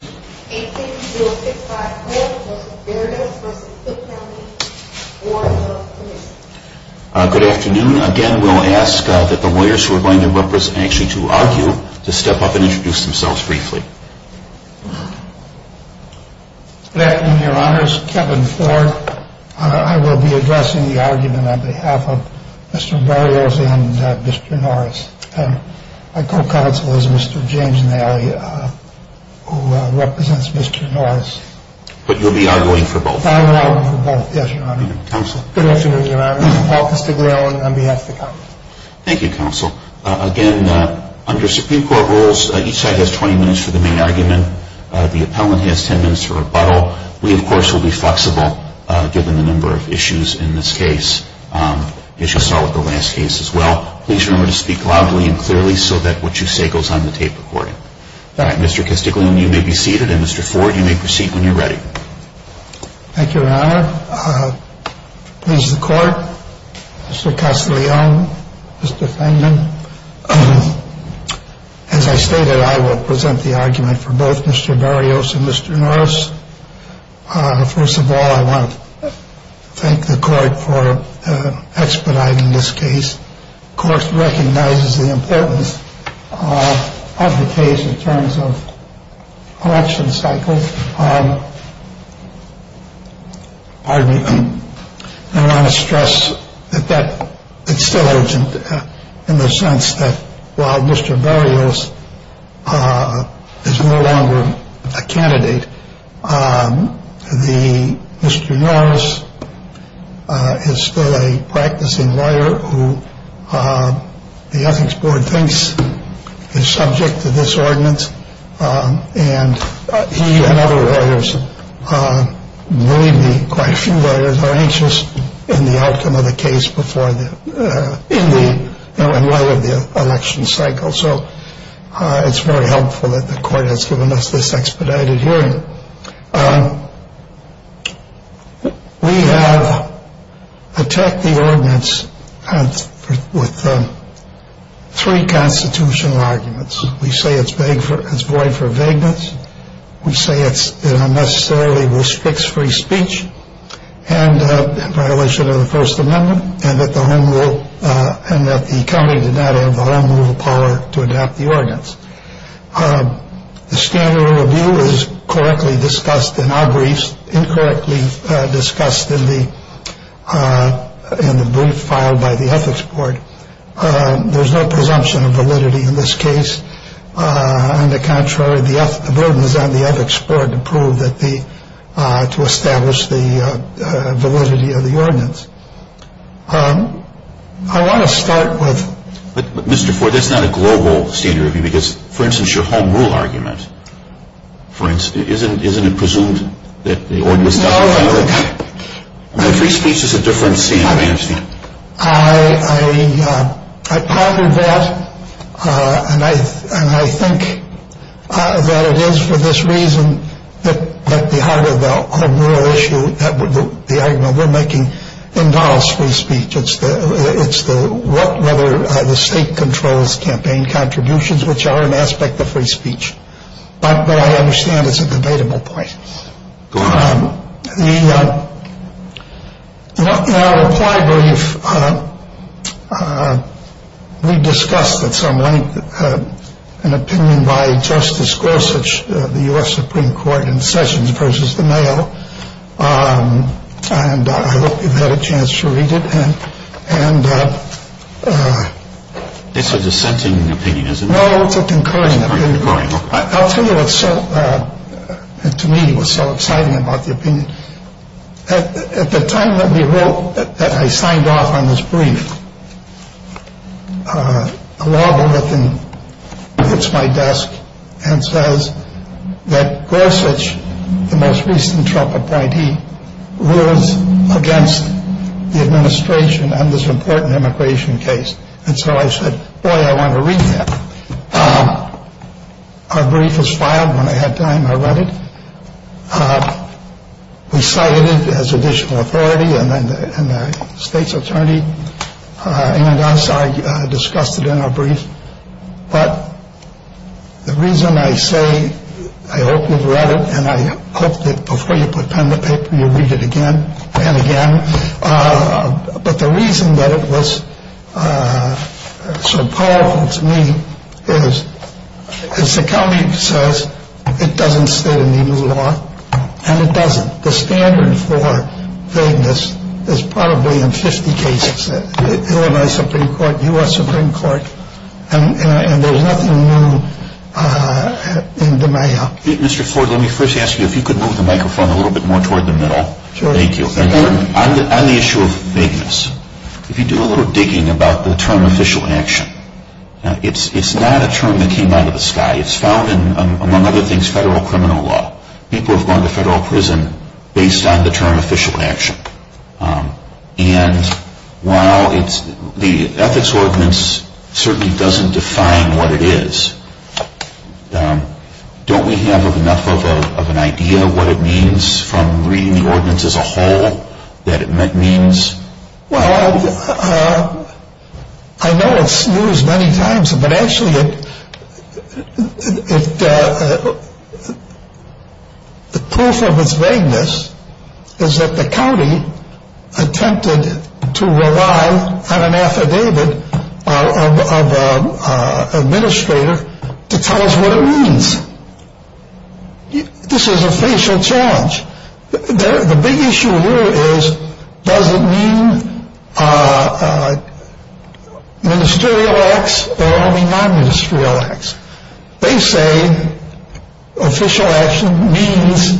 Good afternoon. Again, we'll ask that the lawyers who are going to represent actually to argue to step up and introduce themselves briefly. Good afternoon, your honors. Kevin Ford. I will be addressing the argument on behalf of Mr. Barrios and Mr. Norris. My co-counsel is Mr. James Nally, who represents Mr. Norris. But you'll be arguing for both? I will be arguing for both, yes, your honor. Good afternoon, your honors. Paul Castiglione on behalf of the counsel. Thank you, counsel. Again, under Supreme Court rules, each side has 20 minutes for the main argument. The appellant has 10 minutes for rebuttal. We, of course, will be flexible given the number of issues in this case. As you saw with the last case as well, please remember to speak loudly and clearly so that what you say goes on the tape recording. Mr. Castiglione, you may be seated, and Mr. Ford, you may proceed when you're ready. Thank you, your honor. Please, the court, Mr. Castiglione, Mr. Feynman. As I stated, I will present the argument for both Mr. Barrios and Mr. Norris. First of all, I want to thank the court for expediting this case. The court recognizes the importance of the case in terms of election cycles. I want to stress that it's still urgent in the sense that while Mr. Barrios is no longer a candidate, Mr. Norris is still a practicing lawyer who the ethics board thinks is subject to this ordinance. And he and other lawyers, maybe quite a few lawyers, are anxious in the outcome of the case before the end of the election cycle. So it's very helpful that the court has given us this expedited hearing. We have attacked the ordinance with three constitutional arguments. We say it's void for vagueness. We say it unnecessarily restricts free speech in violation of the First Amendment and that the county did not have the home rule power to adapt the ordinance. The standard of review is correctly discussed in our briefs, incorrectly discussed in the brief filed by the ethics board. There's no presumption of validity in this case. On the contrary, the burden is on the ethics board to prove that the – to establish the validity of the ordinance. I want to start with – But, Mr. Ford, that's not a global standard of review because, for instance, your home rule argument, for instance, isn't it presumed that the ordinance – No. Free speech is a different standard of amnesty. I ponder that, and I think that it is for this reason that at the heart of the home rule issue, the argument we're making, endows free speech. It's the – whether the state controls campaign contributions, which are an aspect of free speech. But I understand it's a debatable point. Go ahead. The – in our reply brief, we discussed at some length an opinion by Justice Gorsuch, the U.S. Supreme Court in Sessions versus the mail, and I hope you've had a chance to read it. And – It's a dissenting opinion, isn't it? No, it's a concurring opinion. I'll tell you what's so – to me, what's so exciting about the opinion. At the time that we wrote – that I signed off on this brief, a label within – hits my desk and says that Gorsuch, the most recent Trump appointee, rules against the administration on this important immigration case. And so I said, boy, I want to read that. Our brief was filed when I had time. I read it. We cited it as additional authority. And then the state's attorney and I discussed it in our brief. But the reason I say I hope you've read it and I hope that before you put pen to paper, you read it again and again. But the reason that it was so powerful to me is, as the county says, it doesn't state any new law. And it doesn't. The standard for vagueness is probably in 50 cases in Illinois Supreme Court, U.S. Supreme Court. And there's nothing new in the mail. Mr. Ford, let me first ask you if you could move the microphone a little bit more toward the middle. Thank you. On the issue of vagueness, if you do a little digging about the term official action, it's not a term that came out of the sky. It's found in, among other things, federal criminal law. People have gone to federal prison based on the term official action. And while the ethics ordinance certainly doesn't define what it is, don't we have enough of an idea of what it means from reading the ordinance as a whole that it means? Well, I know it snooze many times, but actually the proof of its vagueness is that the county attempted to rely on an affidavit of an administrator to tell us what it means. This is a facial challenge. The big issue here is does it mean ministerial acts or only non-ministerial acts? They say official action means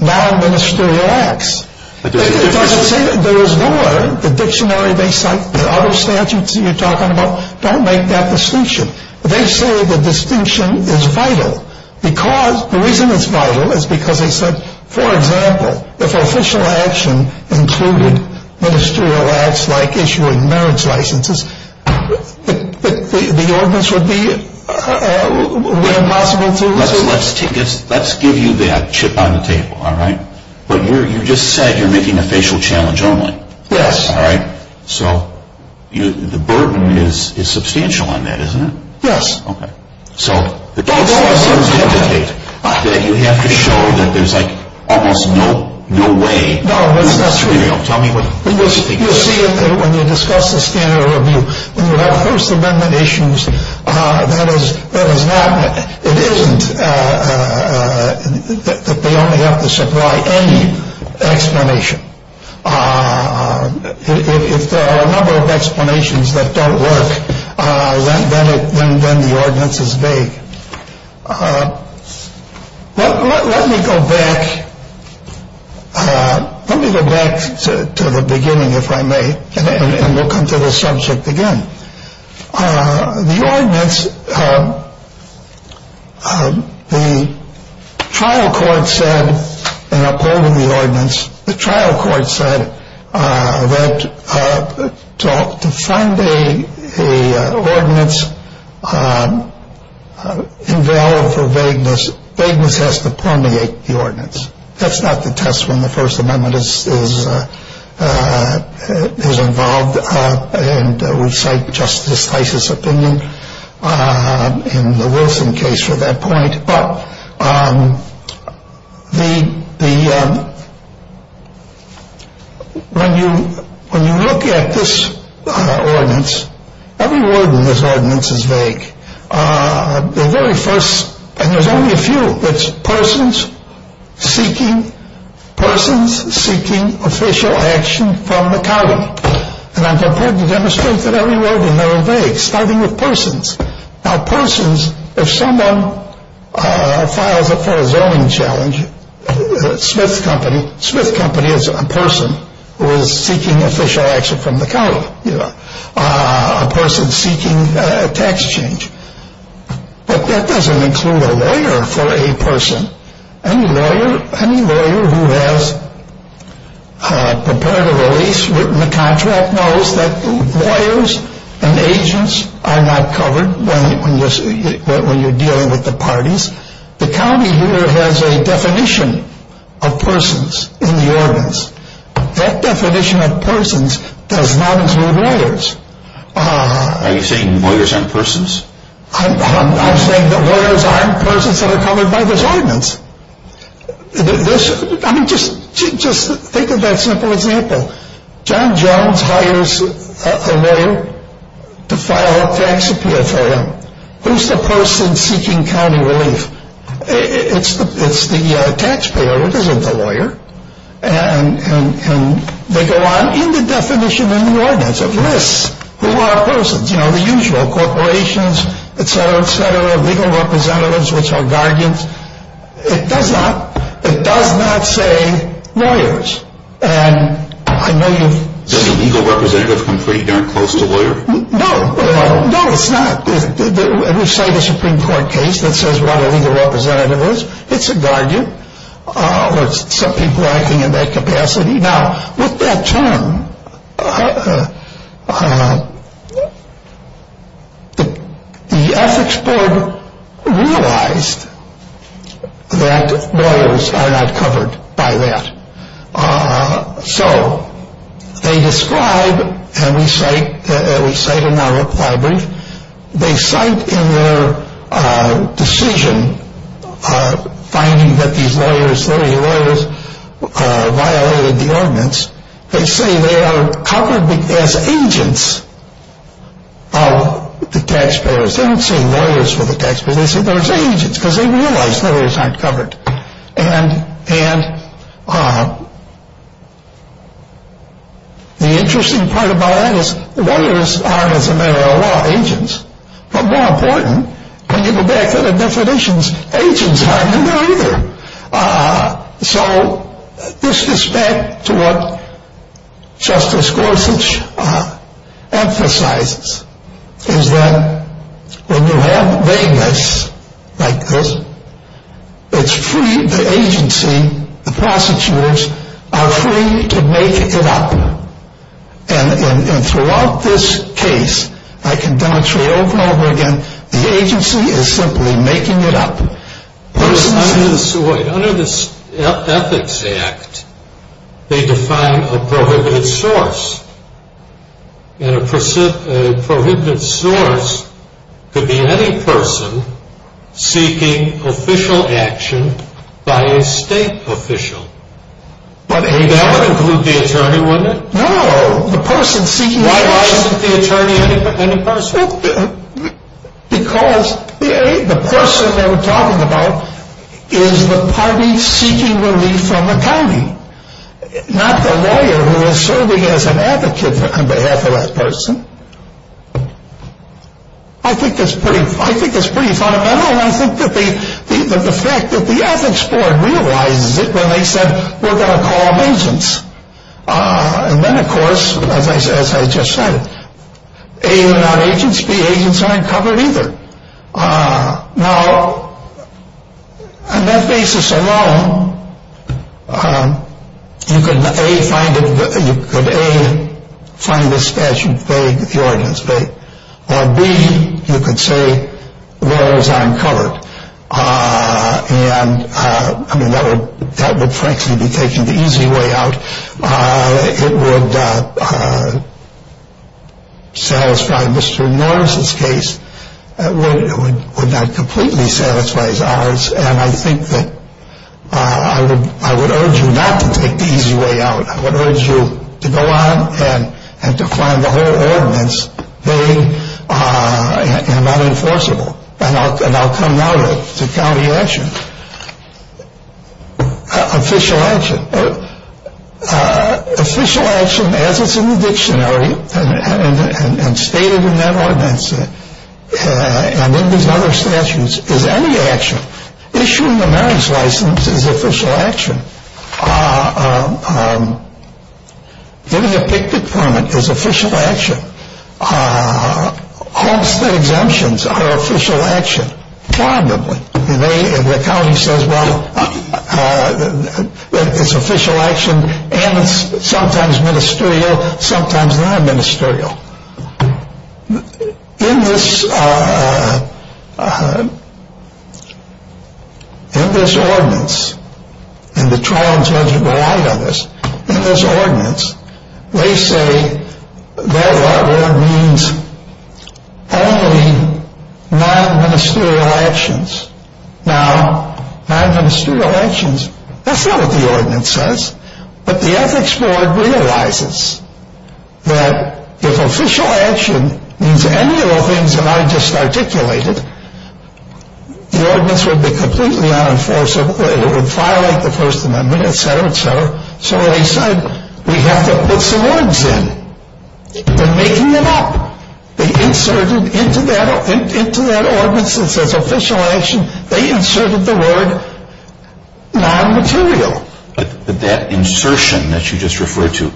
non-ministerial acts. It doesn't say that. There is more. The dictionary they cite, the other statutes that you're talking about, don't make that distinction. They say the distinction is vital. The reason it's vital is because they said, for example, if official action included ministerial acts like issuing marriage licenses, the ordinance would be impossible to resolve. Let's give you that chip on the table, all right? But you just said you're making a facial challenge only. Yes. All right. So the burden is substantial on that, isn't it? Yes. Okay. So you have to show that there's almost no way. No, that's not true. Tell me what's the big issue. You see, when you discuss the standard review, when you have First Amendment issues, it isn't that they only have to supply any explanation. If there are a number of explanations that don't work, then the ordinance is vague. Let me go back. Let me go back to the beginning, if I may, and we'll come to the subject again. The ordinance, the trial court said, and I'll go over the ordinance. The trial court said that to find an ordinance invalid for vagueness, vagueness has to permeate the ordinance. That's not the test when the First Amendment is involved, and we cite Justice Fisis' opinion in the Wilson case for that point. But when you look at this ordinance, every word in this ordinance is vague. The very first, and there's only a few, it's persons seeking official action from the county. And I'm prepared to demonstrate that every word in there is vague, starting with persons. Now persons, if someone files up for a zoning challenge, Smith Company is a person who is seeking official action from the county, a person seeking a tax change. But that doesn't include a lawyer for a person. Any lawyer who has prepared a release, written a contract, knows that lawyers and agents are not covered when you're dealing with the parties. The county here has a definition of persons in the ordinance. That definition of persons does not include lawyers. Are you saying lawyers aren't persons? I'm saying that lawyers aren't persons that are covered by this ordinance. Just think of that simple example. John Jones hires a lawyer to file a tax appeal for him. Who's the person seeking county relief? It's the taxpayer. It isn't the lawyer. And they go on in the definition in the ordinance of lists who are persons. You know, the usual corporations, et cetera, et cetera, legal representatives, which are guardians. It does not say lawyers. Does a legal representative come pretty darn close to a lawyer? No. No, it's not. We've cited a Supreme Court case that says what a legal representative is. It's a guardian. Some people are acting in that capacity. Now, with that term, the ethics board realized that lawyers are not covered by that. So they describe, and we cite in our book library, they cite in their decision finding that these lawyers, 30 lawyers, violated the ordinance. They say they are covered as agents of the taxpayers. They don't say lawyers for the taxpayers. They say they're agents because they realize lawyers aren't covered. And the interesting part about that is lawyers aren't, as a matter of law, agents. But more important, when you go back to the definitions, agents aren't in there either. So this is back to what Justice Gorsuch emphasizes, is that when you have vagueness like this, it's free. The agency, the prosecutors, are free to make it up. And throughout this case, I can demonstrate over and over again, the agency is simply making it up. Under the Ethics Act, they define a prohibited source. And a prohibited source could be any person seeking official action by a state official. That would include the attorney, wouldn't it? No. Why isn't the attorney any person? Because the person they were talking about is the party seeking relief from the county, not the lawyer who is serving as an advocate on behalf of that person. I think that's pretty fundamental. And I think that the fact that the Ethics Board realizes it when they said, we're going to call them agents. And then, of course, as I just said, A, they're not agents. B, agents aren't covered either. Now, on that basis alone, you could A, find this statute vague, the ordinance vague. Or B, you could say, laws aren't covered. And, I mean, that would frankly be taking the easy way out. It would satisfy Mr. Norris's case. It would not completely satisfy ours. And I think that I would urge you not to take the easy way out. I would urge you to go on and to find the whole ordinance vague and not enforceable. And I'll come now to county action. Official action. Official action as it's in the dictionary and stated in that ordinance and in these other statutes is any action. Issuing a marriage license is official action. Giving a picket permit is official action. Homestead exemptions are official action. Probably. And the county says, well, it's official action and it's sometimes ministerial, sometimes non-ministerial. In this ordinance, and the trial judge relied on this, they say that means only non-ministerial actions. Now, non-ministerial actions, that's not what the ordinance says. But the ethics board realizes that if official action means any of the things that I just articulated, the ordinance would be completely unenforceable. It would violate the First Amendment, et cetera, et cetera. So they said we have to put some words in. They're making them up. They inserted into that ordinance that says official action, they inserted the word non-material. But that insertion that you just referred to,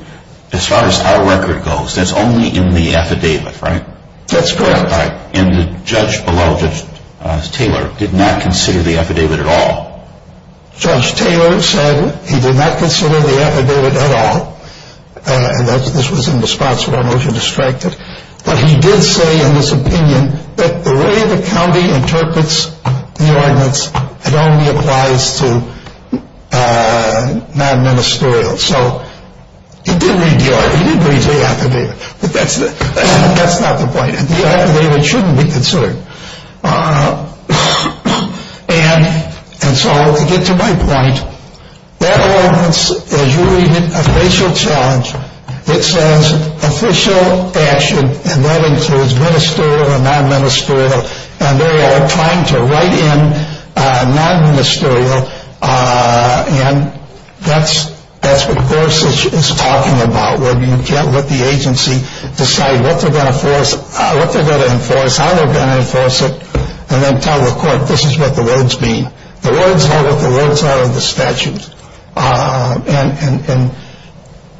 as far as our record goes, that's only in the affidavit, right? That's correct. And the judge below, Judge Taylor, did not consider the affidavit at all. Judge Taylor said he did not consider the affidavit at all. This was in response to our motion to strike it. But he did say in his opinion that the way the county interprets the ordinance, it only applies to non-ministerial. So he did read the affidavit, but that's not the point. The affidavit shouldn't be considered. And so to get to my point, that ordinance, as you read it, official challenge, it says official action, and that includes ministerial and non-ministerial, and they are trying to write in non-ministerial. And that's what Gorsuch is talking about, where you can't let the agency decide what they're going to force, what they're going to enforce, how they're going to enforce it, and then tell the court this is what the words mean. The words are what the words are in the statute. And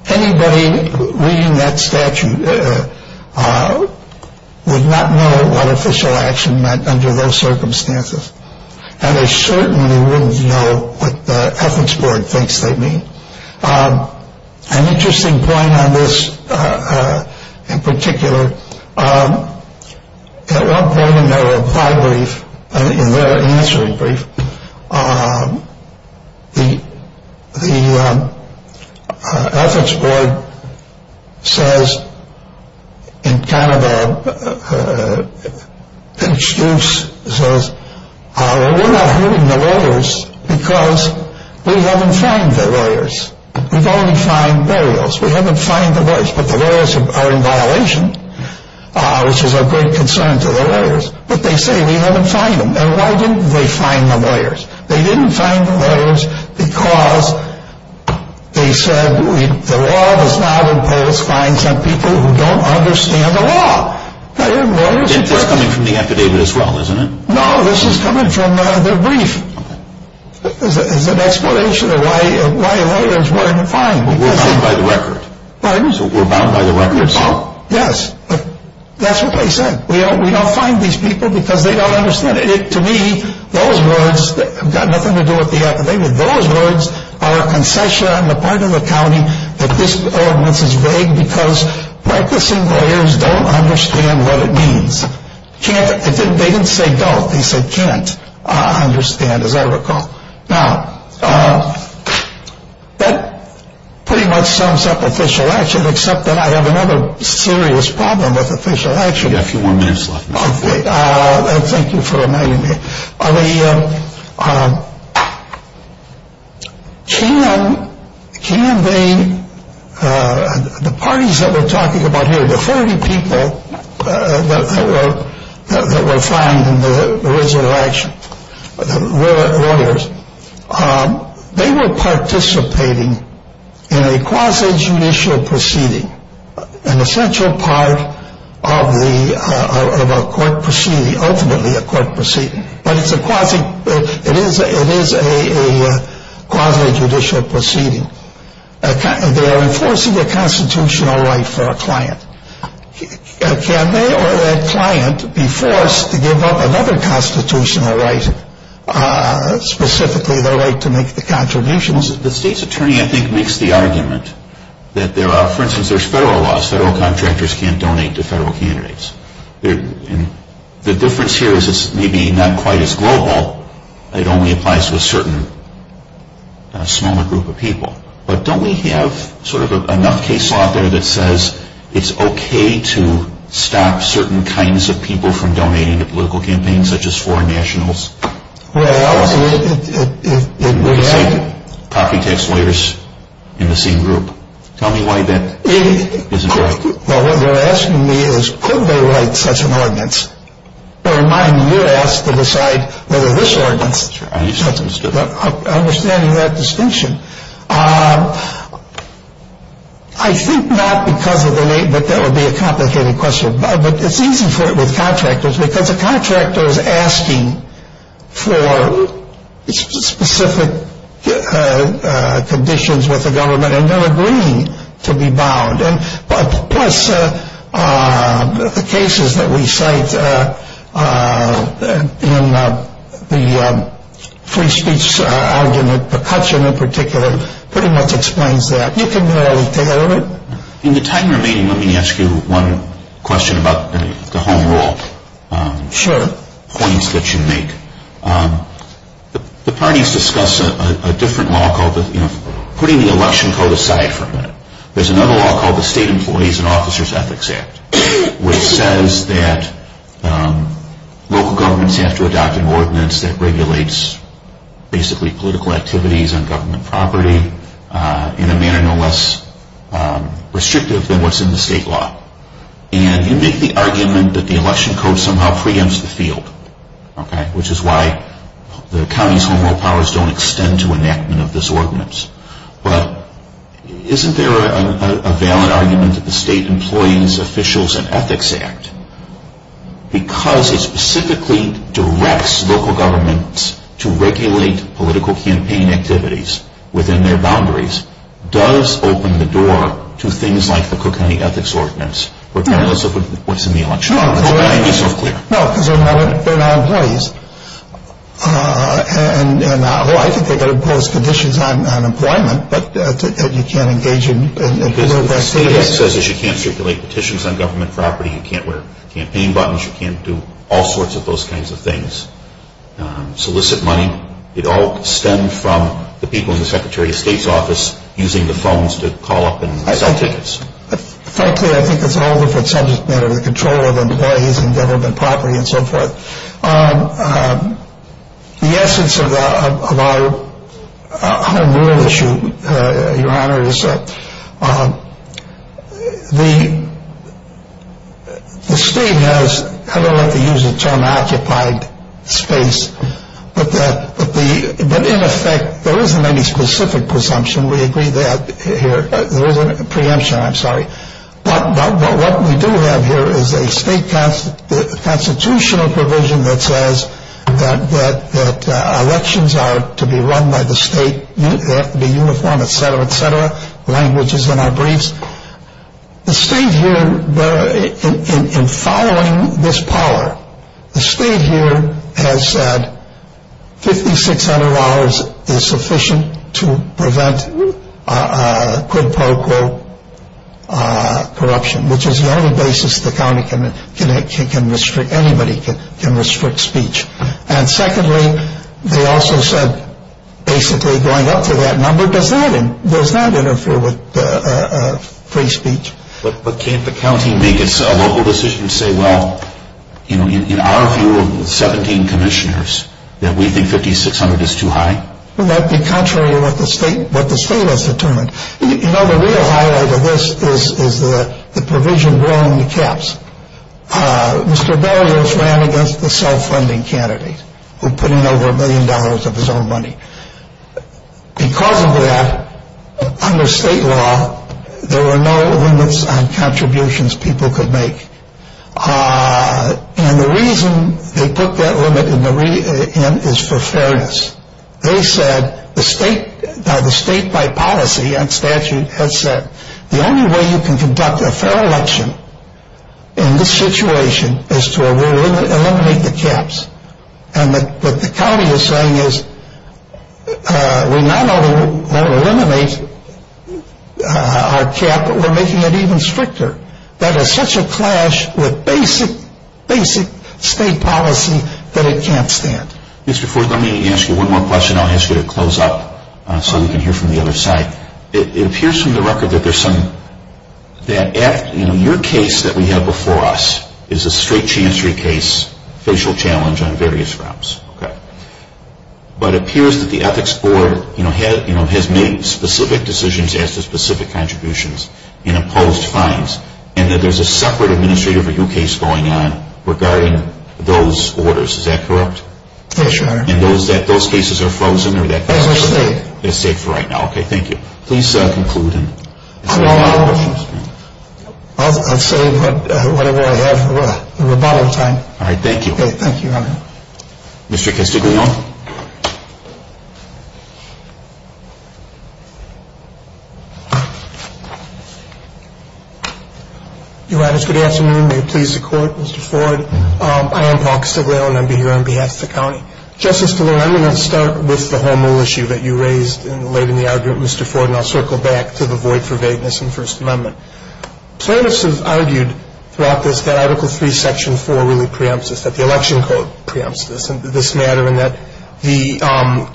anybody reading that statute would not know what official action meant under those circumstances. And they certainly wouldn't know what the ethics board thinks they mean. An interesting point on this in particular, at one point in their reply brief, in their answering brief, the ethics board says in kind of an excuse, says we're not hearing the lawyers because we haven't found the lawyers. We've only found burials. We haven't found the lawyers, but the lawyers are in violation, which is of great concern to the lawyers. But they say we haven't found them. And why didn't they find the lawyers? They didn't find the lawyers because they said the law does not impose fines on people who don't understand the law. This is coming from the affidavit as well, isn't it? No, this is coming from their brief. It's an explanation of why lawyers weren't fined. We're bound by the record. Pardon? We're bound by the record. Yes. That's what they said. We don't find these people because they don't understand it. To me, those words have got nothing to do with the affidavit. Those words are a concession on the part of the county that this ordinance is vague because practicing lawyers don't understand what it means. They didn't say don't. They said can't understand, as I recall. Now, that pretty much sums up official action, except that I have another serious problem with official action. You have a few more minutes left. Thank you for reminding me. The parties that we're talking about here, the 30 people that were fined in the original action, the lawyers, they were participating in a quasi-judicial proceeding, an essential part of a court proceeding, ultimately a court proceeding. But it is a quasi-judicial proceeding. They are enforcing a constitutional right for a client. Can they or that client be forced to give up another constitutional right, specifically the right to make the contributions? The state's attorney, I think, makes the argument that there are, for instance, there's federal laws. Federal contractors can't donate to federal candidates. The difference here is it's maybe not quite as global. It only applies to a certain smaller group of people. But don't we have sort of enough case law out there that says it's okay to stop certain kinds of people from donating to political campaigns, such as foreign nationals? Well, it would have. Copy tax lawyers in the same group. Tell me why that isn't right. Well, what they're asking me is could they write such an ordinance? Or in my view, you're asked to decide whether this ordinance, understanding that distinction. I think not because of the name, but that would be a complicated question. But it's easy with contractors because a contractor is asking for specific conditions with the government, and they're agreeing to be bound. And plus the cases that we cite in the free speech argument, McCutcheon in particular pretty much explains that. You can narrow it down. In the time remaining, let me ask you one question about the home rule. Sure. Points that you make. The parties discuss a different law called putting the election code aside for a minute. There's another law called the State Employees and Officers Ethics Act, which says that local governments have to adopt an ordinance that regulates basically political activities on government property in a manner no less restrictive than what's in the state law. And you make the argument that the election code somehow preempts the field, which is why the county's home rule powers don't extend to enactment of this ordinance. But isn't there a valid argument that the State Employees, Officers, and Ethics Act, because it specifically directs local governments to regulate political campaign activities within their boundaries, does open the door to things like the Cook County Ethics Ordinance, regardless of what's in the election code. No, because they're not employees. And, well, I think they could impose conditions on employment, but you can't engage in... The State Act says that you can't stipulate petitions on government property, you can't wear campaign buttons, you can't do all sorts of those kinds of things. Solicit money, it all stemmed from the people in the Secretary of State's office using the phones to call up and sell tickets. Frankly, I think it's all different subject matter, the control of employees and government property and so forth. The essence of our home rule issue, Your Honor, is that the State has, I don't like to use the term occupied space, but in effect there isn't any specific presumption, we agree that here, there isn't a preemption, I'm sorry. But what we do have here is a state constitutional provision that says that elections are to be run by the state, they have to be uniform, etc., etc., language is in our briefs. The state here, in following this power, the state here has said $5,600 is sufficient to prevent quid pro quo corruption, which is the only basis the county can restrict, anybody can restrict speech. And secondly, they also said basically going up to that number, does that interfere with free speech? But can't the county make a local decision and say, well, in our view of 17 commissioners, that we think $5,600 is too high? That would be contrary to what the state has determined. You know, the real highlight of this is the provision growing the caps. Mr. Barrios ran against the self-funding candidate who put in over a million dollars of his own money. Because of that, under state law, there were no limits on contributions people could make. And the reason they put that limit in is for fairness. They said, the state by policy and statute has said, the only way you can conduct a fair election in this situation is to eliminate the caps. And what the county is saying is, we not only want to eliminate our cap, but we're making it even stricter. That is such a clash with basic state policy that it can't stand. Mr. Ford, let me ask you one more question. I'll ask you to close up so we can hear from the other side. It appears from the record that your case that we have before us is a straight chancery case, facial challenge on various grounds. But it appears that the Ethics Board has made specific decisions as to specific contributions and imposed fines, and that there's a separate administrative review case going on regarding those orders. Is that correct? Yes, Your Honor. And those cases are frozen? They're safe. They're safe for right now. Okay, thank you. Please conclude. I'll say whatever I have. We're about out of time. All right, thank you. Thank you, Your Honor. Mr. Castiglione. Your Honors, good afternoon. May it please the Court. Mr. Ford, I am Paul Castiglione. I'm here on behalf of the county. Justice DeLeon, I'm going to start with the home rule issue that you raised late in the argument, Mr. Ford, and I'll circle back to the void for vagueness in the First Amendment. Plaintiffs have argued throughout this that Article III, Section 4 really preempts this, that the Election Code preempts this matter, and that the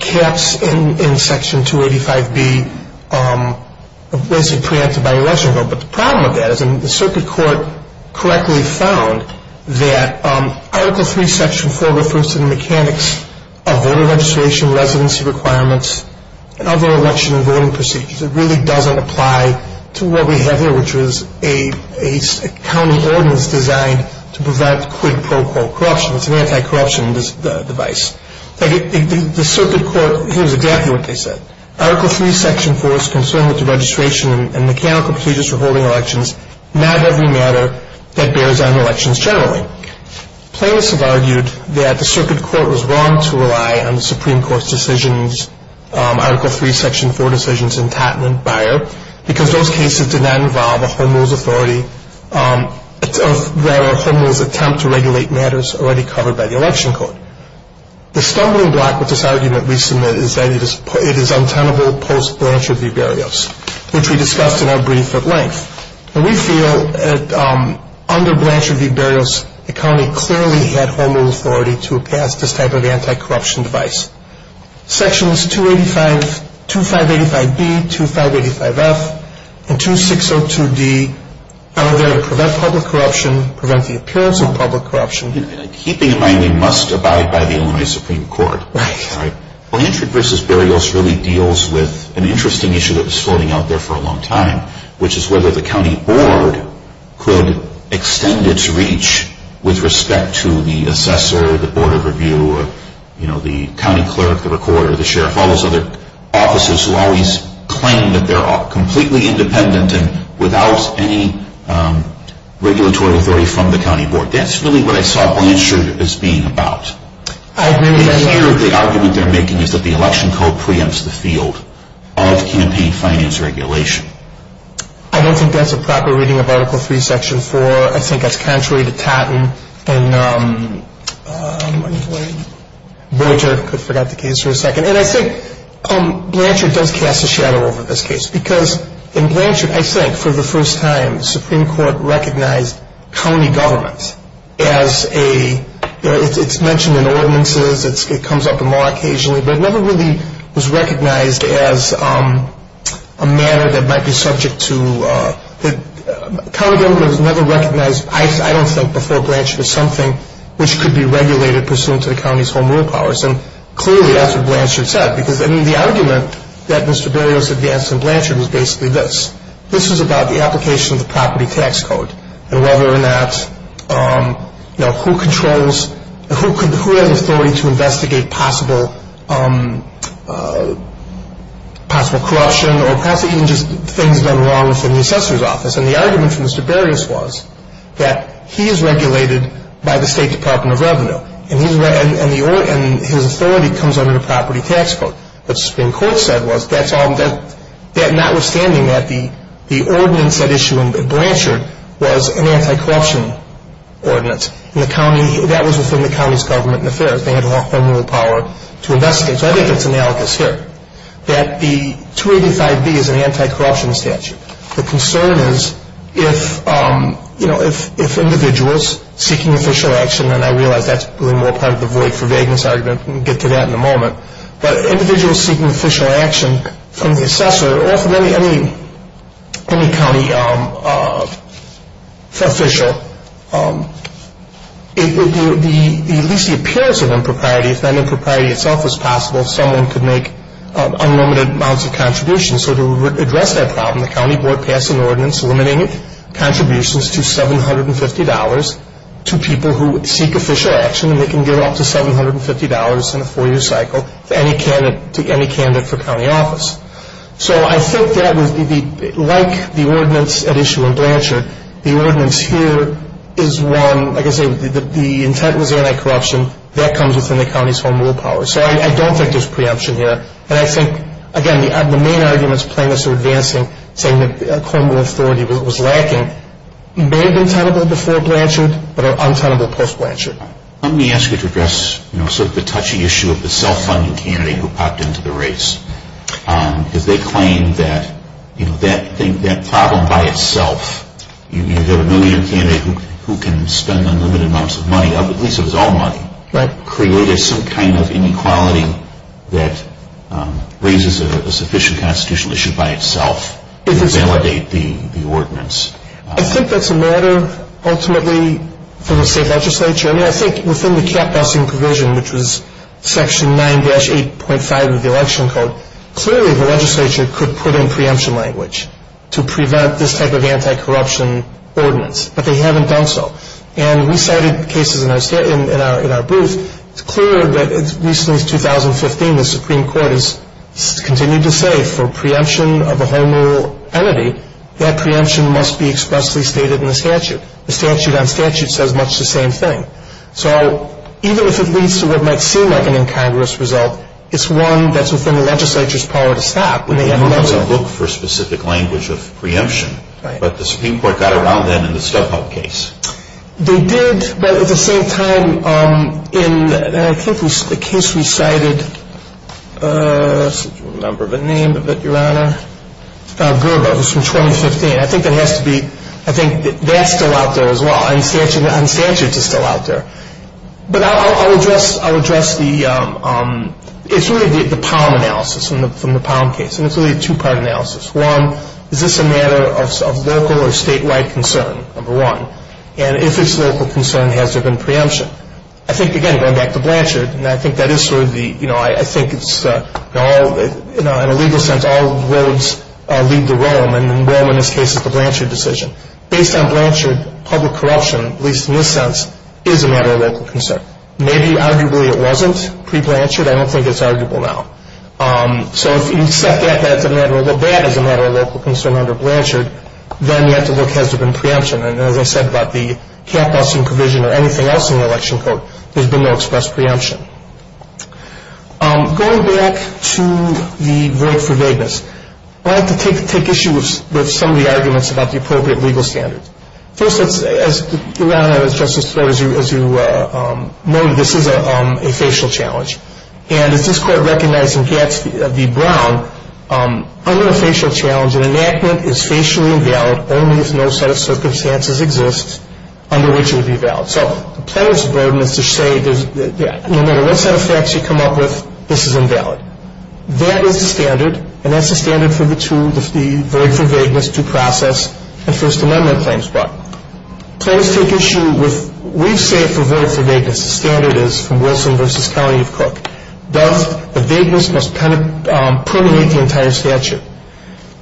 caps in Section 285B are basically preempted by the Election Code. But the problem with that is the circuit court correctly found that Article III, Section 4 refers to the mechanics of voter registration, residency requirements, and other election and voting procedures. It really doesn't apply to what we have here, which is a county ordinance designed to prevent quid pro quo corruption. It's an anti-corruption device. The circuit court hears exactly what they said. Article III, Section 4 is concerned with the registration and mechanical procedures for holding elections, not every matter that bears on elections generally. Plaintiffs have argued that the circuit court was wrong to rely on the Supreme Court's decisions, Article III, Section 4 decisions in Totten and Beyer, because those cases did not involve a home rule's authority, rather a home rule's attempt to regulate matters already covered by the Election Code. The stumbling block with this argument we submit is that it is untenable post-Blanche Review burials, which we discussed in our brief at length. We feel that under Blanche Review burials, the county clearly had home rule authority to pass this type of anti-corruption device. Sections 2585B, 2585F, and 2602D are there to prevent public corruption, prevent the appearance of public corruption. Keeping in mind we must abide by the Illinois Supreme Court. Right. Well, Entry vs. Burials really deals with an interesting issue that was floating out there for a long time, which is whether the county board could extend its reach with respect to the assessor, the board of review, the county clerk, the recorder, the sheriff, all those other officers who always claim that they're completely independent and without any regulatory authority from the county board. That's really what I saw Blanche Review as being about. I agree with that. The argument they're making is that the election code preempts the field of campaign finance regulation. I don't think that's a proper reading of Article III, Section 4. I think that's contrary to Totten and Boyer. I forgot the case for a second. And I think Blanchard does cast a shadow over this case because in Blanchard, I think, for the first time, the Supreme Court recognized county government as a, it's mentioned in ordinances, it comes up more occasionally, but it never really was recognized as a matter that might be subject to, county government was never recognized, I don't think, before Blanchard, as something which could be regulated pursuant to the county's home rule powers. And clearly that's what Blanchard said because the argument that Mr. Burials advanced in Blanchard was basically this. This was about the application of the property tax code and whether or not, you know, who controls, who has authority to investigate possible corruption or possibly even just things done wrong within the assessor's office. And the argument for Mr. Burials was that he is regulated by the State Department of Revenue and his authority comes under the property tax code. What the Supreme Court said was that notwithstanding that the ordinance at issue in Blanchard was an anti-corruption ordinance and the county, that was within the county's government affairs. They had home rule power to investigate. So I think it's analogous here that the 285B is an anti-corruption statute. The concern is if, you know, if individuals seeking official action, and I realize that's really more part of the void for vagueness argument, we'll get to that in a moment, but individuals seeking official action from the assessor, or from any county official, at least the appearance of impropriety, if that impropriety itself was possible, someone could make unlimited amounts of contributions. So to address that problem, the county board passed an ordinance limiting contributions to $750 to people who seek official action and they can give up to $750 in a four-year cycle to any candidate for county office. So I think that, like the ordinance at issue in Blanchard, the ordinance here is one, like I say, the intent was anti-corruption. That comes within the county's home rule power. So I don't think there's preemption here. And I think, again, the main arguments plaintiffs are advancing, saying the criminal authority was lacking, may have been tenable before Blanchard, but are untenable post-Blanchard. Let me ask you to address sort of the touchy issue of the self-funding candidate who popped into the race. Because they claim that that problem by itself, you have a millionaire candidate who can spend unlimited amounts of money, at least it was all money, created some kind of inequality that raises a sufficient constitutional issue by itself to validate the ordinance. I think that's a matter ultimately for the state legislature. I mean, I think within the cap-busting provision, which was section 9-8.5 of the election code, clearly the legislature could put in preemption language to prevent this type of anti-corruption ordinance. But they haven't done so. And we cited cases in our booth. It's clear that recently, 2015, the Supreme Court has continued to say for preemption of a home rule entity, that preemption must be expressly stated in the statute. The statute on statute says much the same thing. So even if it leads to what might seem like an incongruous result, it's one that's within the legislature's power to stop. They normally look for specific language of preemption. Right. But the Supreme Court got around that in the StubHub case. They did, but at the same time in, I think the case we cited, I can't remember the name of it, Your Honor, was from 2015. I think that has to be, I think that's still out there as well. And statute is still out there. But I'll address the, it's really the Palm analysis from the Palm case. And it's really a two-part analysis. One, is this a matter of local or statewide concern, number one. And if it's local concern, has there been preemption? I think, again, going back to Blanchard, and I think that is sort of the, you know, I think it's, you know, in a legal sense, all roads lead to Rome. And Rome in this case is the Blanchard decision. Based on Blanchard, public corruption, at least in this sense, is a matter of local concern. Maybe arguably it wasn't pre-Blanchard. I don't think it's arguable now. So if you set that as a matter of, that as a matter of local concern under Blanchard, then you have to look, has there been preemption? And as I said about the cap busing provision or anything else in the election code, there's been no express preemption. Going back to the verdict for vagueness, I'd like to take issue with some of the arguments about the appropriate legal standards. First, as Justice Breyer, as you noted, this is a facial challenge. And as this Court recognized in Gadsby v. Brown, under a facial challenge, an enactment is facially invalid only if no set of circumstances exists under which it would be valid. So the plaintiff's burden is to say no matter what set of facts you come up with, this is invalid. That is the standard, and that's the standard for the two, the verdict for vagueness, due process, and First Amendment claims. But plaintiffs take issue with, we say for verdict for vagueness, the standard is from Wilson v. County of Cook, does the vagueness must permeate the entire statute.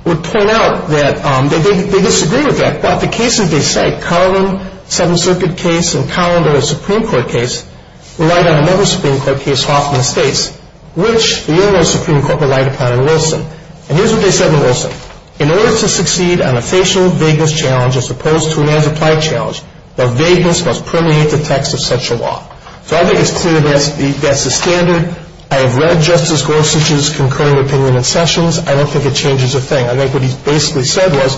We'll point out that they disagree with that. But the cases they cite, Carlin, Seventh Circuit case, and Carlin v. Supreme Court case, relied on another Supreme Court case, Hoffman v. States, which the Illinois Supreme Court relied upon in Wilson. And here's what they said in Wilson. In order to succeed on a facial vagueness challenge as opposed to an as-applied challenge, the vagueness must permeate the text of such a law. So I think it's clear that's the standard. I have read Justice Gorsuch's concurring opinion in sessions. I don't think it changes a thing. I think what he basically said was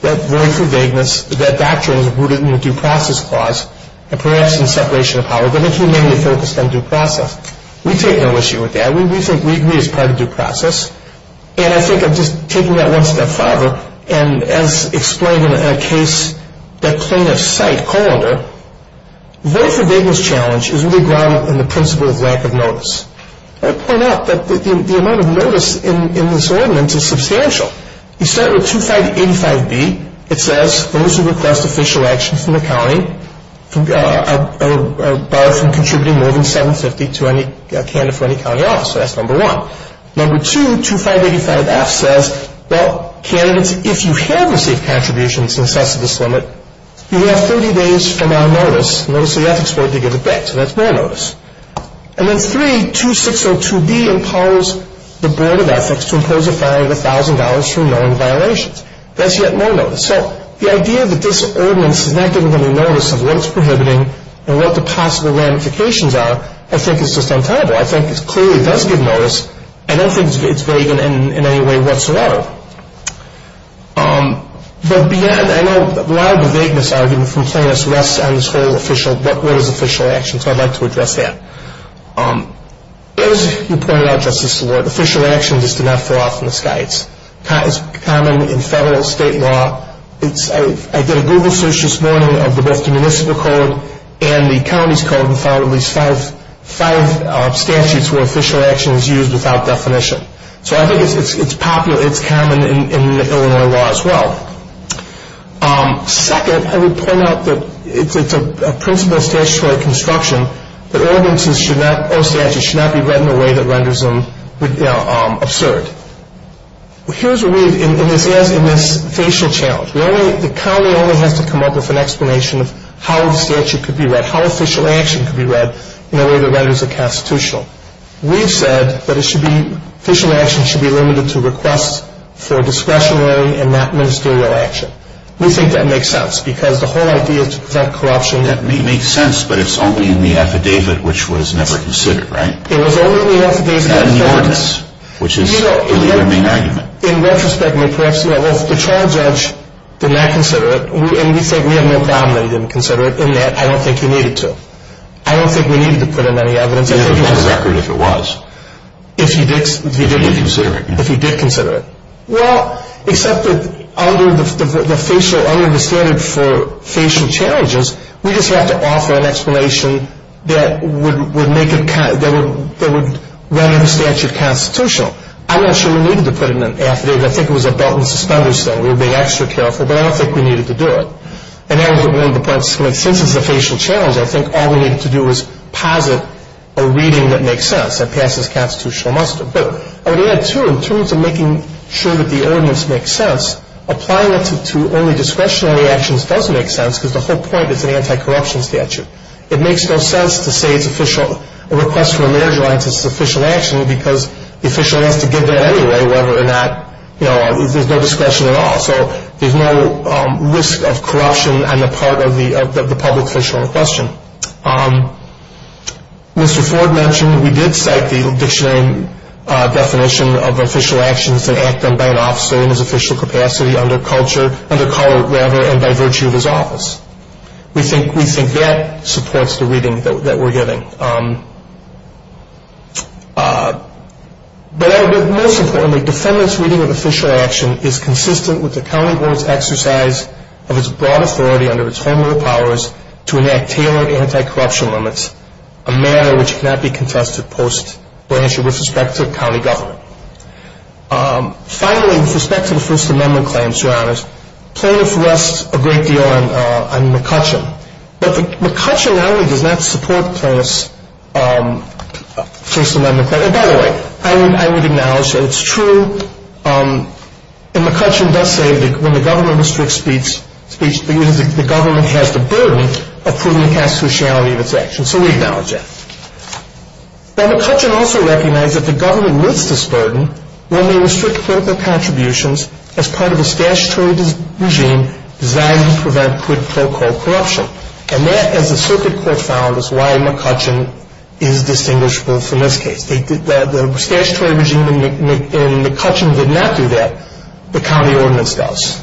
that verdict for vagueness, that doctrine is rooted in the due process clause, and perhaps in separation of power. But I think he mainly focused on due process. We take no issue with that. We think we agree it's part of due process. And I think I'm just taking that one step farther. And as explained in a case that plaintiffs cite, Colander, verdict for vagueness challenge is really grounded in the principle of lack of notice. I want to point out that the amount of notice in this ordinance is substantial. You start with 2585B. It says, those who request official action from the county are barred from contributing more than $750 to any candidate for any county office. So that's number one. Number two, 2585F says, well, candidates, if you have received contributions in excess of this limit, you have 30 days from our notice. Notice of the ethics board to give it back. So that's more notice. And then three, 2602B imposes the board of ethics to impose a fine of $1,000 for knowing violations. That's yet more notice. So the idea that this ordinance is not giving any notice of what it's prohibiting and what the possible ramifications are, I think is just untenable. I think it clearly does give notice. I don't think it's vague in any way whatsoever. But beyond, I know a lot of the vagueness argument from plaintiffs rests on this whole official, what is official action. So I'd like to address that. As you pointed out, Justice Seward, official action is to not fall off from the skies. It's common in federal, state law. I did a Google search this morning of both the municipal code and the county's code and found at least five statutes where official action is used without definition. Second, I would point out that it's a principle of statutory construction that ordinances or statutes should not be read in a way that renders them absurd. Here's what we've, in this facial challenge, the county only has to come up with an explanation of how the statute could be read, how official action could be read in a way that renders it constitutional. We've said that official action should be limited to requests for discretionary and not ministerial action. We think that makes sense because the whole idea is to prevent corruption. That makes sense, but it's only in the affidavit, which was never considered, right? It was only in the affidavit. And in the ordinance, which is the other main argument. In retrospect, the trial judge did not consider it, and we think we have no problem that he didn't consider it, in that I don't think he needed to. I don't think we needed to put in any evidence. He had a full record if it was. If he did consider it. Well, except that under the standard for facial challenges, we just have to offer an explanation that would render the statute constitutional. I'm not sure we needed to put in an affidavit. I think it was a belt and suspenders thing. We were being extra careful, but I don't think we needed to do it. And that was one of the points. Since it's a facial challenge, I think all we needed to do was posit a reading that makes sense and passes constitutional muster. But I would add, too, in terms of making sure that the ordinance makes sense, applying it to only discretionary actions does make sense, because the whole point is an anti-corruption statute. It makes no sense to say a request for a marriage alliance is official action because the official has to give that anyway, whether or not there's no discretion at all. So there's no risk of corruption on the part of the public official in question. Mr. Ford mentioned we did cite the dictionary definition of official actions that act done by an officer in his official capacity under culture, under color, rather, and by virtue of his office. We think that supports the reading that we're getting. But most importantly, defendant's reading of official action is consistent with the county board's exercise of its broad authority under its formative powers to enact tailored anti-corruption limits, a matter which cannot be contested post-branching with respect to county government. Finally, with respect to the First Amendment claims, Your Honors, plaintiff rests a great deal on McCutcheon. But McCutcheon not only does not support plaintiff's First Amendment claims. By the way, I would acknowledge that it's true, and McCutcheon does say that when the government restricts speech, it means the government has the burden of putting the constitutionality of its actions. So we acknowledge that. Now, McCutcheon also recognized that the government lifts this burden when they restrict clinical contributions as part of a statutory regime designed to prevent quote, unquote, corruption. And that, as the circuit court found, is why McCutcheon is distinguishable from this case. The statutory regime in McCutcheon did not do that. The county ordinance does.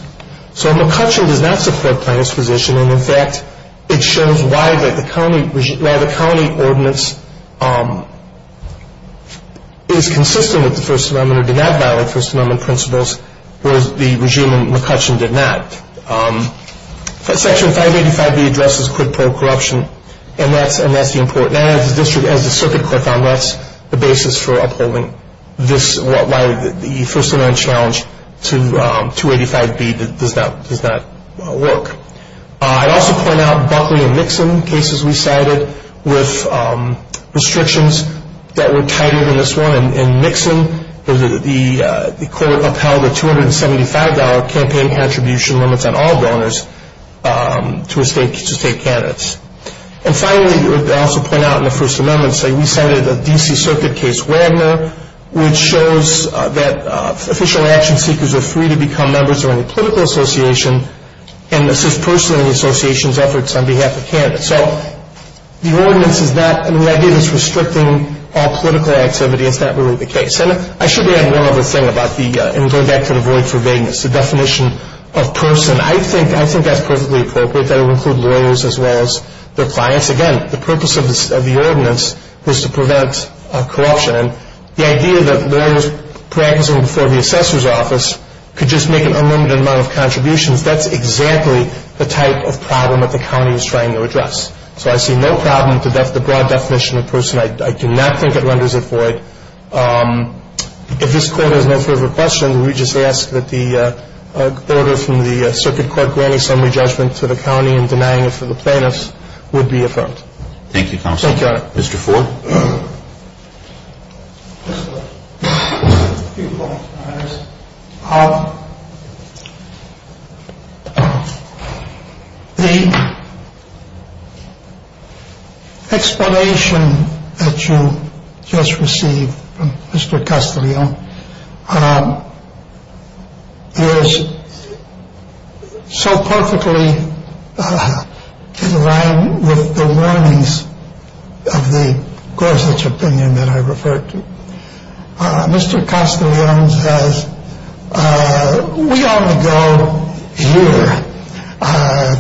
So McCutcheon does not support plaintiff's position, and, in fact, it shows why the county ordinance is consistent with the First Amendment or did not violate First Amendment principles, whereas the regime in McCutcheon did not. Section 585B addresses quid pro corruption, and that's the important. And as the circuit court found, that's the basis for upholding this, why the First Amendment challenge to 285B does not work. I'd also point out Buckley and Mixon cases we cited with restrictions that were tighter than this one. In Mixon, the court upheld the $275 campaign contribution limits on all donors to state candidates. And finally, I'd also point out in the First Amendment, say we cited a D.C. circuit case, Wagner, which shows that official action seekers are free to become members of any political association and assist personally in the association's efforts on behalf of candidates. So the ordinance is not an idea that's restricting all political activity. It's not really the case. And I should add one other thing about the going back to the void for vagueness, the definition of person. I think that's perfectly appropriate. That would include lawyers as well as their clients. Again, the purpose of the ordinance was to prevent corruption. And the idea that lawyers practicing before the assessor's office could just make an unlimited amount of contributions, that's exactly the type of problem that the county is trying to address. So I see no problem with the broad definition of person. I do not think it renders it void. If this Court has no further questions, we just ask that the order from the circuit court granting summary judgment to the county and denying it for the plaintiffs would be affirmed. Thank you, Counsel. Thank you, Your Honor. Mr. Ford? Thank you, Your Honor. The explanation that you just received from Mr. Castillo is so perfectly in line with the warnings of the Gorsuch opinion that I referred to. Mr. Castillo says we only go here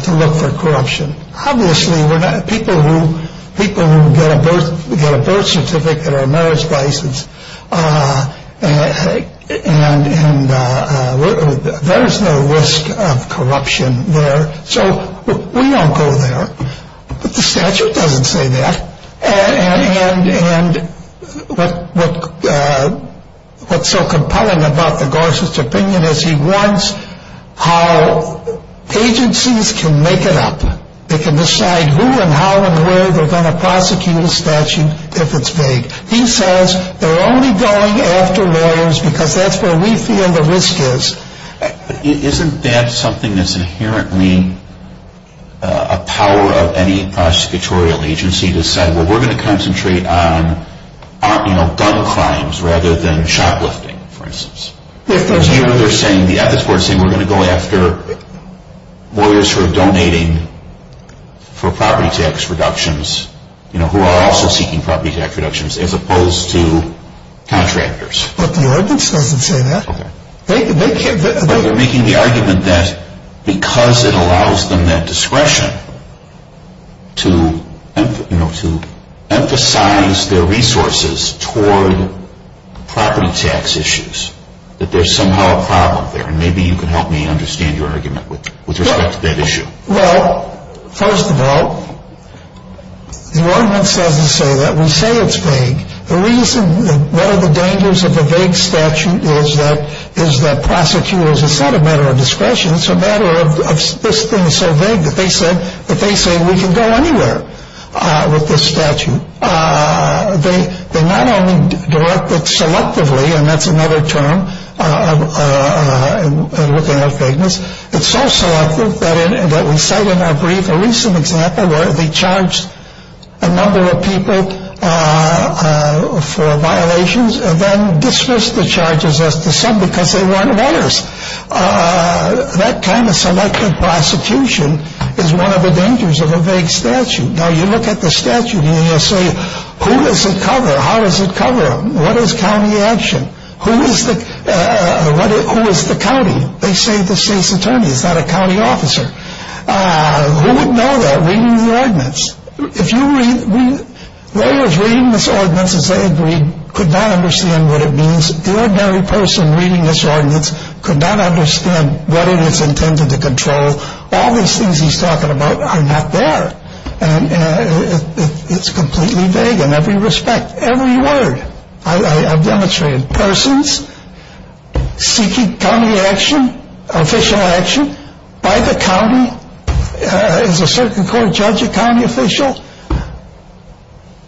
to look for corruption. Obviously, we're not people who get a birth certificate or a marriage license. And there is no risk of corruption there. So we won't go there. But the statute doesn't say that. And what's so compelling about the Gorsuch opinion is he warns how agencies can make it up. They can decide who and how and where they're going to prosecute a statute if it's vague. He says they're only going after lawyers because that's where we feel the risk is. Isn't that something that's inherently a power of any prosecutorial agency to say, well, we're going to concentrate on gun crimes rather than shoplifting, for instance? The ethics board is saying we're going to go after lawyers who are donating for property tax reductions, who are also seeking property tax reductions, as opposed to contractors. But the ordinance doesn't say that. But they're making the argument that because it allows them that discretion to emphasize their resources toward property tax issues, that there's somehow a problem there. And maybe you can help me understand your argument with respect to that issue. Well, first of all, the ordinance doesn't say that. We say it's vague. One of the dangers of a vague statute is that prosecutors have said it's a matter of discretion. It's a matter of this thing is so vague that they say we can go anywhere with this statute. They not only direct it selectively, and that's another term, looking at vagueness. It's so selective that we cite in our brief a recent example where they charged a number of people for violations and then dismissed the charges as to some because they weren't onerous. That kind of selective prosecution is one of the dangers of a vague statute. Now, you look at the statute and you say, who does it cover? How does it cover? What is county action? Who is the county? They say the state's attorney. Is that a county officer? Who would know that reading the ordinance? If you read, they were reading this ordinance as they agreed, could not understand what it means. The ordinary person reading this ordinance could not understand what it is intended to control. All these things he's talking about are not there. And it's completely vague in every respect, every word. I've demonstrated persons seeking county action, official action by the county. Is a certain court judge a county official?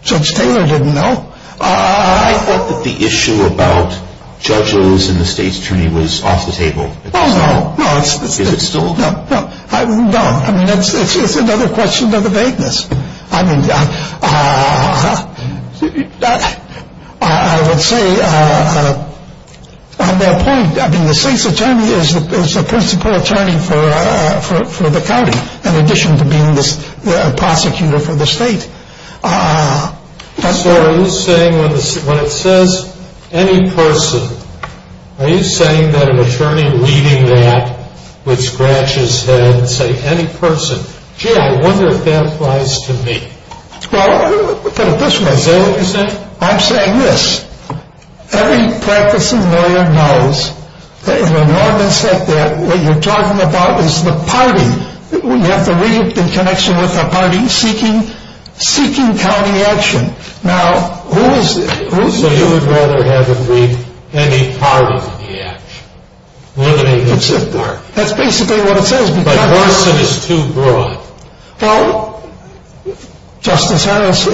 Judge Taylor didn't know. I thought that the issue about Judge Lewis and the state's attorney was off the table. No, no, no. Is it still? No, no. It's another question of the vagueness. I mean, I would say on that point, I mean, the state's attorney is the principal attorney for the county, in addition to being the prosecutor for the state. So are you saying when it says any person, are you saying that an attorney reading that would scratch his head and say any person? Gee, I wonder if that applies to me. Well, look at it this way. Is that what you're saying? I'm saying this. Every practicing lawyer knows that in an ordinance like that, what you're talking about is the party. We have to read in connection with the party seeking county action. Now, who is it? So you would rather have them read any part of the action? That's basically what it says. But what if it is too broad? Well, Justice Harris,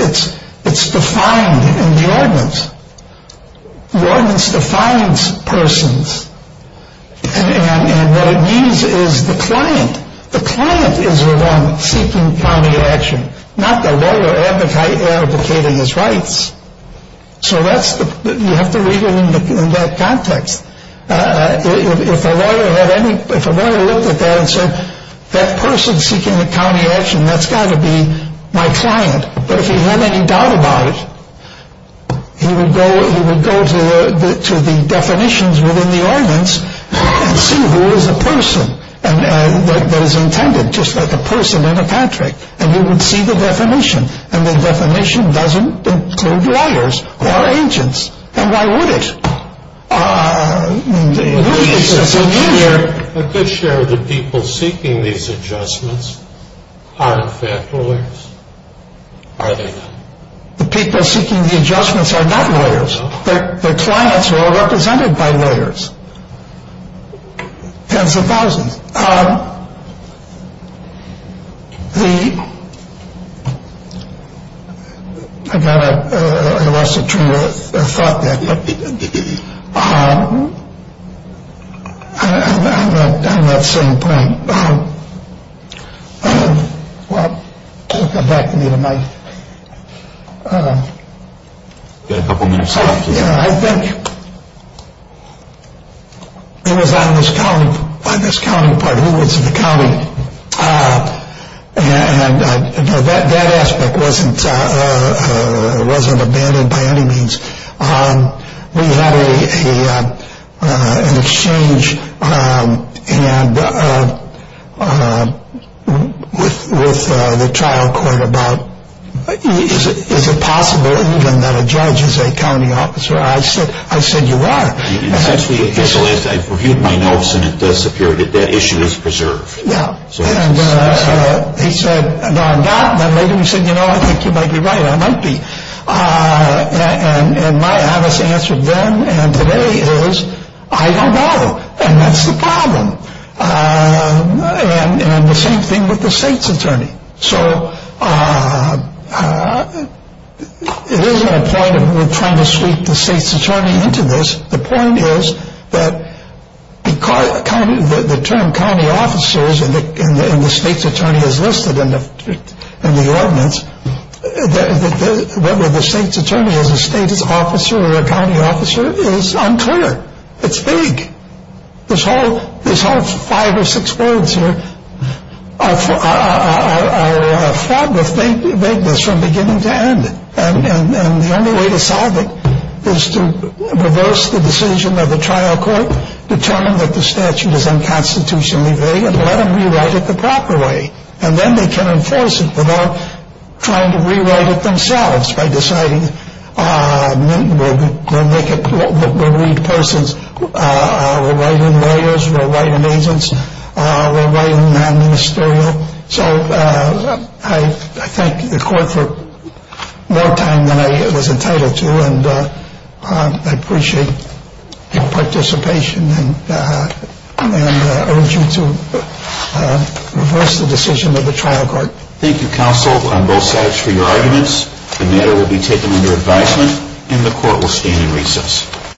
it's defined in the ordinance. The ordinance defines persons, and what it means is the client. The client is the one seeking county action, not the lawyer advocating his rights. So you have to read it in that context. If a lawyer looked at that and said, that person seeking the county action, that's got to be my client, but if he had any doubt about it, he would go to the definitions within the ordinance and see who is a person that is intended, just like a person in a contract, and he would see the definition, and the definition doesn't include lawyers or agents. Then why would it? A good share of the people seeking these adjustments aren't in fact lawyers, are they? The people seeking the adjustments are not lawyers. The clients are all represented by lawyers, tens of thousands. I lost the train of thought there. I'm at the same point. Well, come back to me. You've got a couple minutes left. Yeah, I think it was on this county part, who was the county, and that aspect wasn't abandoned by any means. We had an exchange with the trial court about, is it possible even that a judge is a county officer? I said, you are. Since we officialized it, I've reviewed my notes, and it does appear that that issue is preserved. Yeah, and he said, no, I'm not. Then later he said, you know, I think you might be right. I might be, and my answer then and today is, I don't know, and that's the problem. And the same thing with the state's attorney. So it isn't a point of we're trying to sweep the state's attorney into this. The point is that the term county officers in the state's attorney is listed in the ordinance. Whether the state's attorney is a state's officer or a county officer is unclear. It's vague. This whole five or six words here are fraught with vagueness from beginning to end, and the only way to solve it is to reverse the decision of the trial court, determine that the statute is unconstitutionally vague, and let them rewrite it the proper way. And then they can enforce it without trying to rewrite it themselves by deciding we'll read persons, we'll write in lawyers, we'll write in agents, we'll write in the ministerial. So I thank the court for more time than I was entitled to, and I appreciate your participation and urge you to reverse the decision of the trial court. Thank you, counsel, on both sides for your arguments. The matter will be taken under advisement, and the court will stand in recess.